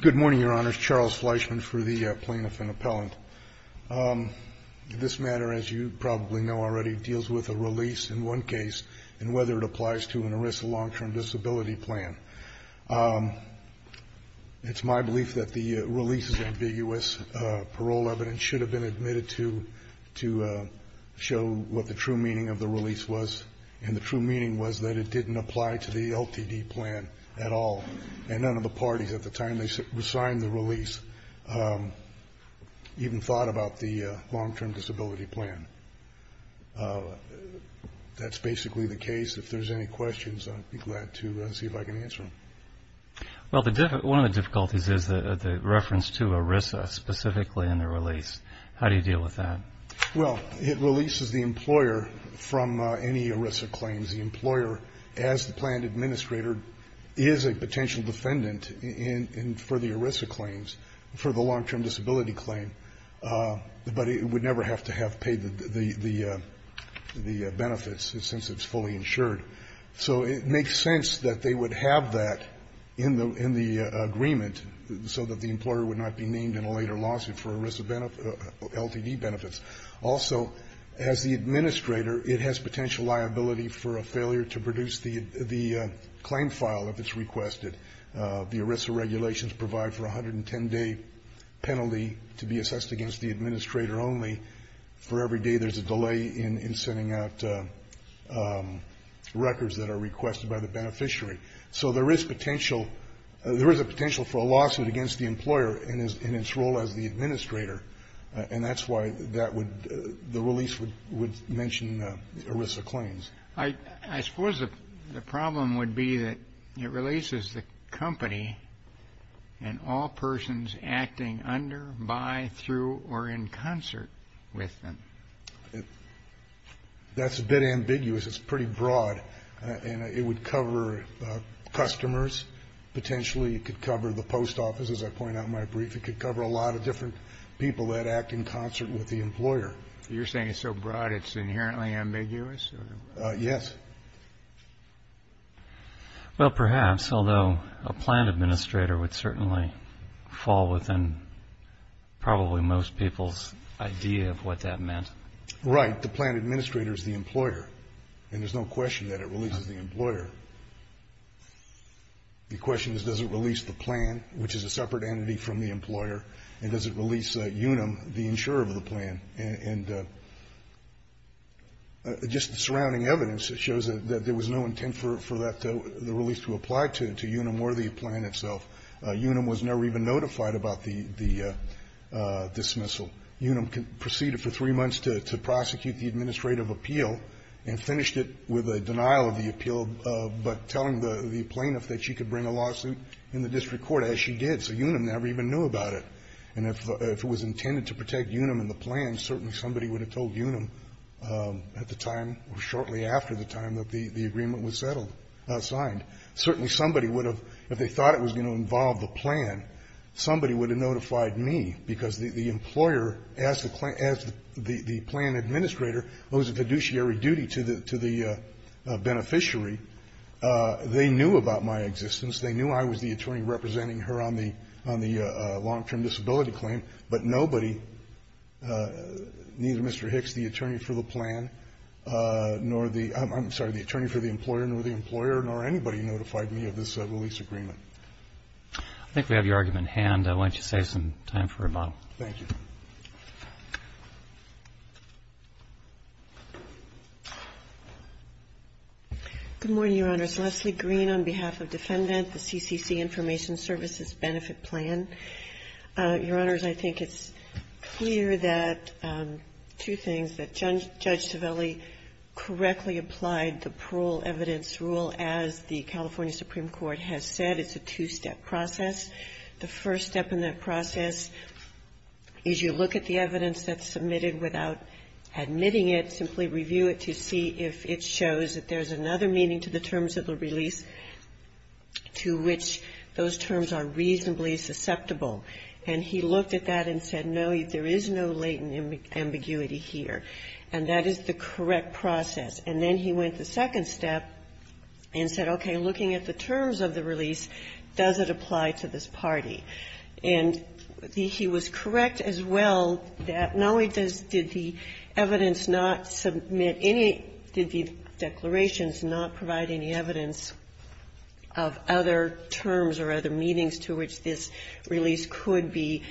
Good morning, Your Honors. Charles Fleischman for the Plaintiff and Appellant. This matter, as you probably know already, deals with a release in one case and whether it applies to an ERISA long-term disability plan. It's my belief that the release is ambiguous. Parole evidence should have been admitted to show what the true meaning of the release was, and the true meaning was that it didn't apply to the LTD plan at all, and none of the parties at the time they signed the release even thought about the long-term disability plan. That's basically the case. If there's any questions, I'd be glad to see if I can answer them. Well, one of the difficulties is the reference to ERISA specifically in the release. How do you deal with that? Well, it releases the employer from any ERISA claims. The employer, as the plan administrator, is a potential defendant for the ERISA claims, for the long-term disability claim, but it would never have to have paid the benefits since it's fully insured. So it makes sense that they would have that in the agreement so that the employer would not be named in a later lawsuit for ERISA LTD benefits. Also, as the administrator, it has potential liability for a failure to produce the claim file if it's requested. The ERISA regulations provide for a 110-day penalty to be assessed against the administrator only for every day there's a delay in sending out records that are requested by the beneficiary. So there is a potential for a lawsuit against the employer in its role as the administrator, and that's why the release would mention ERISA claims. I suppose the problem would be that it releases the company and all persons acting under, by, through, or in concert with them. That's a bit ambiguous. It's pretty broad, and it would cover customers. Potentially it could cover the post office, as I point out in my brief. It could cover a lot of different people that act in concert with the employer. You're saying it's so broad it's inherently ambiguous? Yes. Well, perhaps, although a plan administrator would certainly fall within probably most people's idea of what that meant. Right. The plan administrator is the employer, and there's no question that it releases the employer. The question is, does it release the plan, which is a separate entity from the employer, and does it release Unum, the insurer of the plan? And just the surrounding evidence shows that there was no intent for that to be released to apply to Unum or the plan itself. Unum was never even notified about the dismissal. Unum proceeded for three months to prosecute the administrative appeal and finished it with a denial of the appeal, but telling the plaintiff that she could bring a lawsuit in the district court, as she did. So Unum never even knew about it. And if it was intended to protect Unum and the plan, certainly somebody would have told Unum at the time or shortly after the time that the agreement was settled or signed. Certainly somebody would have, if they thought it was going to involve the plan, somebody would have notified me, because the employer, as the plan administrator owes a fiduciary duty to the beneficiary. They knew about my existence. They knew I was the attorney representing her on the long-term disability claim, but nobody, neither Mr. Hicks, the attorney for the plan, nor the employer, nor the employer, nor anybody notified me of this release agreement. I think we have your argument in hand. I want you to save some time for rebuttal. Thank you. Good morning, Your Honors. Leslie Green on behalf of Defendant, the CCC Information Services Benefit Plan. Your Honors, I think it's clear that two things, that Judge Civelli correctly applied the parole evidence rule, as the California Supreme Court has said. It's a two-step process. The first step in that process is you look at the evidence that's submitted without admitting it, simply review it to see if it shows that there's another meaning to the terms of the release to which those terms are reasonably susceptible. And he looked at that and said, no, there is no latent ambiguity here. And that is the correct process. And then he went the second step and said, okay, looking at the terms of the release, does it apply to this party? And he was correct as well that, no, he does the evidence not submit any of the declarations and does not provide any evidence of other terms or other meanings to which this release could be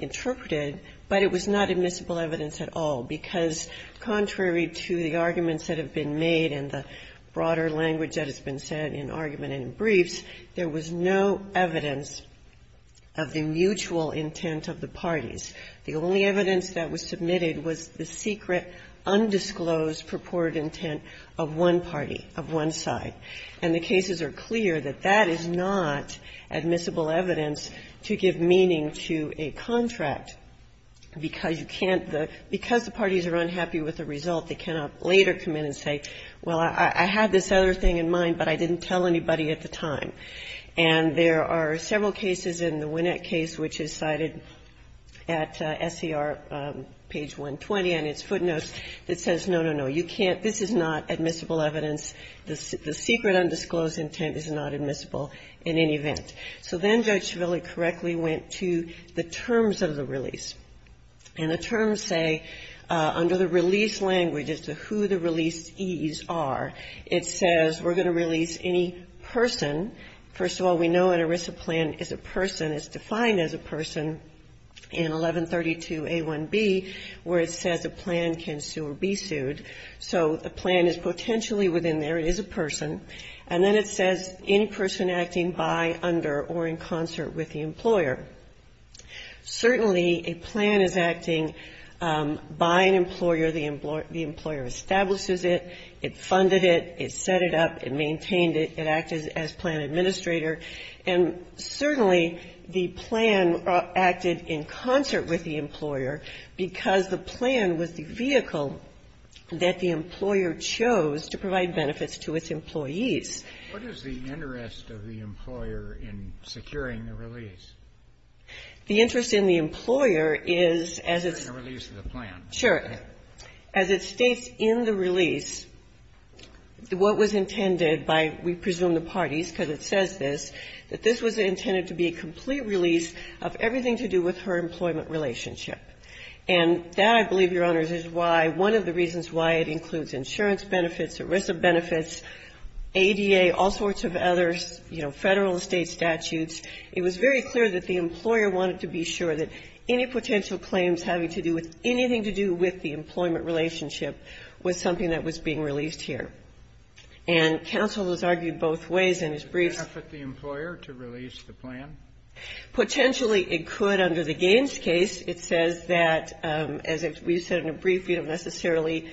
interpreted, but it was not admissible evidence at all, because contrary to the arguments that have been made and the broader language that has been said in argument and briefs, there was no evidence of the mutual intent of the parties. The only evidence that was submitted was the secret, undisclosed purported intent of one party, of one side. And the cases are clear that that is not admissible evidence to give meaning to a contract because you can't the – because the parties are unhappy with the result, they cannot later come in and say, well, I had this other thing in mind, but I didn't tell anybody at the time. And there are several cases in the Winnett case, which is cited at SCR page 120 on its footnotes, that says, no, no, no, you can't – this is not admissible evidence. The secret, undisclosed intent is not admissible in any event. So then Judge Shavilla correctly went to the terms of the release. And the terms say, under the release language as to who the releasees are, it says we're going to release any person. First of all, we know an ERISA plan is a person. It's defined as a person in 1132a1b, where it says a plan can sue or be sued. So the plan is potentially within there. It is a person. And then it says, in person acting by, under, or in concert with the employer. Certainly, a plan is acting by an employer. The employer establishes it. It funded it. It set it up. It maintained it. It acted as plan administrator. And certainly, the plan acted in concert with the employer because the plan was the vehicle that the employer chose to provide benefits to its employees. What is the interest of the employer in securing the release? The interest in the employer is, as it's – Securing the release of the plan. Sure. As it states in the release, what was intended by, we presume, the parties, because it says this, that this was intended to be a complete release of everything to do with her employment relationship. And that, I believe, Your Honors, is why one of the reasons why it includes insurance benefits, ERISA benefits, ADA, all sorts of others, you know, Federal and State statutes, it was very clear that the employer wanted to be sure that any potential claims having to do with anything to do with the employment relationship was something that was being released here. And counsel has argued both ways in his briefs. Could it effort the employer to release the plan? Potentially, it could under the Gaines case. It says that, as we said in the brief, we don't necessarily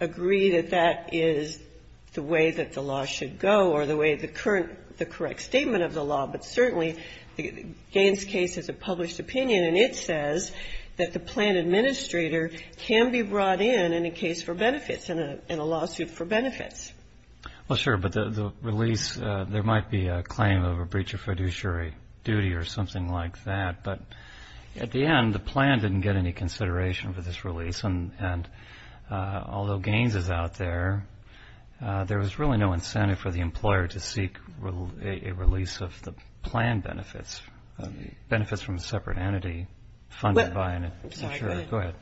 agree that that is the way that the law should go or the way the current, the correct statement of the law. But certainly, the Gaines case is a published opinion, and it says that the plan administrator can be brought in in a case for benefits, in a lawsuit for benefits. Well, sure. But the release, there might be a claim of a breach of fiduciary duty or something like that. But at the end, the plan didn't get any consideration for this release. And although Gaines is out there, there was really no incentive for the employer to seek a release of the plan benefits, benefits from a separate entity funded by an insurer. Go ahead.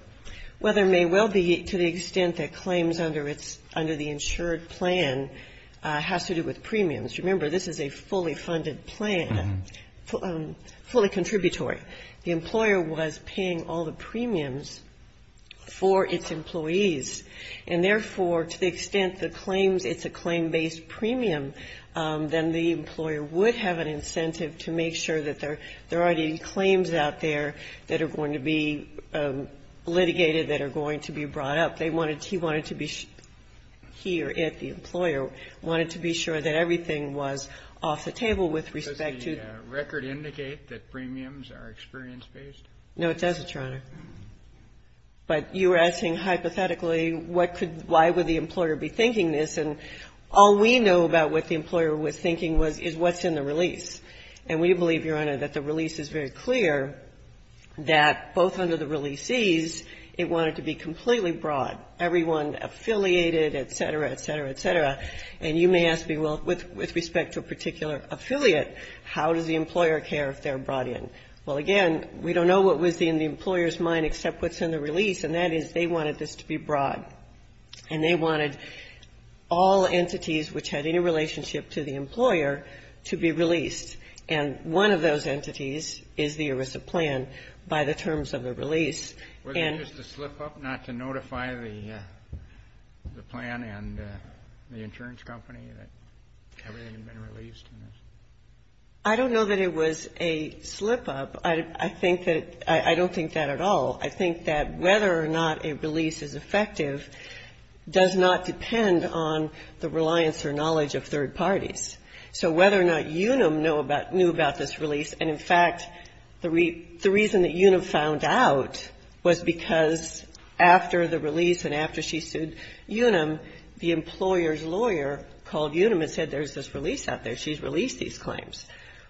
Well, there may well be to the extent that claims under the insured plan has to do with premiums. Remember, this is a fully funded plan, fully contributory. The employer was paying all the premiums for its employees. And therefore, to the extent that claims, it's a claim-based premium, then the employer would have an incentive to make sure that there are any claims out there that are going to be litigated, that are going to be brought up. They wanted to be sure, he or it, the employer, wanted to be sure that everything was off the table with respect to the record. Does the record indicate that premiums are experience-based? No, it doesn't, Your Honor. But you were asking hypothetically, what could, why would the employer be thinking this? And all we know about what the employer was thinking was, is what's in the release. And we believe, Your Honor, that the release is very clear that both under the releasees, it wanted to be completely broad, everyone affiliated, et cetera, et cetera, et cetera. And you may ask me, well, with respect to a particular affiliate, how does the employer care if they're brought in? Well, again, we don't know what was in the employer's mind except what's in the release, and that is, they wanted this to be broad. And they wanted all entities which had any relationship to the employer to be released. And one of those entities is the ERISA plan by the terms of the release. And to slip up, not to notify the plan and the insurance company that everything had been released. I don't know that it was a slip up. I think that, I don't think that at all. I think that whether or not a release is effective does not depend on the reliance or knowledge of third parties. So whether or not Unum knew about this release, and in fact, the reason that Unum found out was because after the release and after she sued Unum, the employer's lawyer called Unum and said, there's this release out there. She's released these claims.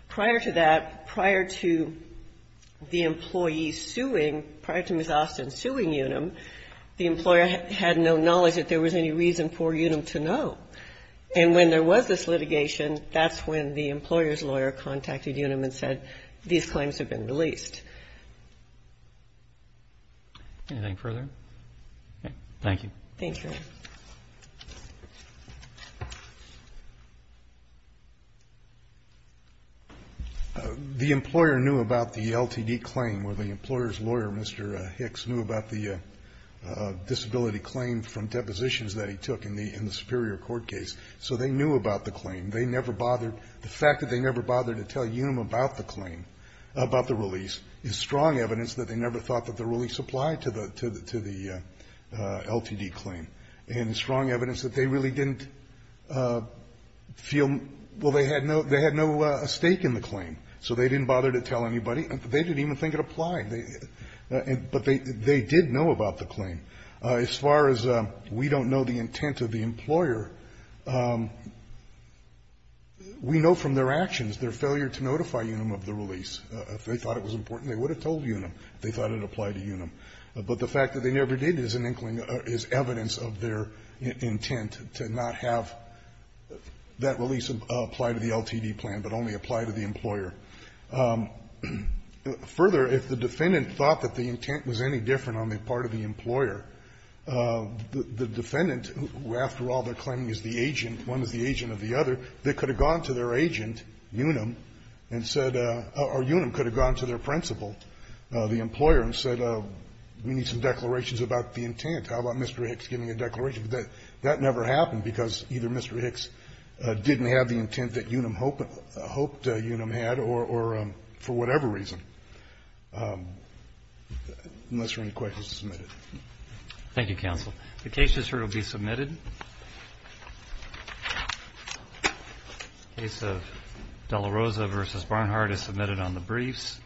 Prior to that, prior to the employee suing, prior to Ms. Austin suing Unum, the employer had no knowledge that there was any reason for Unum to know. And when there was this litigation, that's when the employer's lawyer contacted Unum and said, these claims have been released. Roberts. Anything further? Okay. Thank you. Thank you. The employer knew about the LTD claim, or the employer's lawyer, Mr. Hicks, knew about the disability claim from depositions that he took in the Superior Court case. So they knew about the claim. They never bothered. The fact that they never bothered to tell Unum about the claim, about the release, is strong evidence that they never thought that the release applied to the LTD claim. And strong evidence that they really didn't feel they had no stake in the claim. So they didn't bother to tell anybody. They didn't even think it applied. But they did know about the claim. As far as we don't know the intent of the employer, we know from their actions, their failure to notify Unum of the release. If they thought it was important, they would have told Unum if they thought it applied to Unum. But the fact that they never did is an inkling or is evidence of their intent to not have that release apply to the LTD claim, but only apply to the employer. Further, if the defendant thought that the intent was any different on the part of the employer, the defendant, who after all they're claiming is the agent, one is the agent of the other, they could have gone to their agent, Unum, and said or Unum could have gone to their principal, the employer, and said, well, we need some declarations about the intent. How about Mr. Hicks giving a declaration? But that never happened because either Mr. Hicks didn't have the intent that Unum hoped Unum had or for whatever reason, unless there are any questions submitted. Thank you, counsel. The case is here to be submitted. The case of De La Rosa v. Barnhart is submitted on the briefs.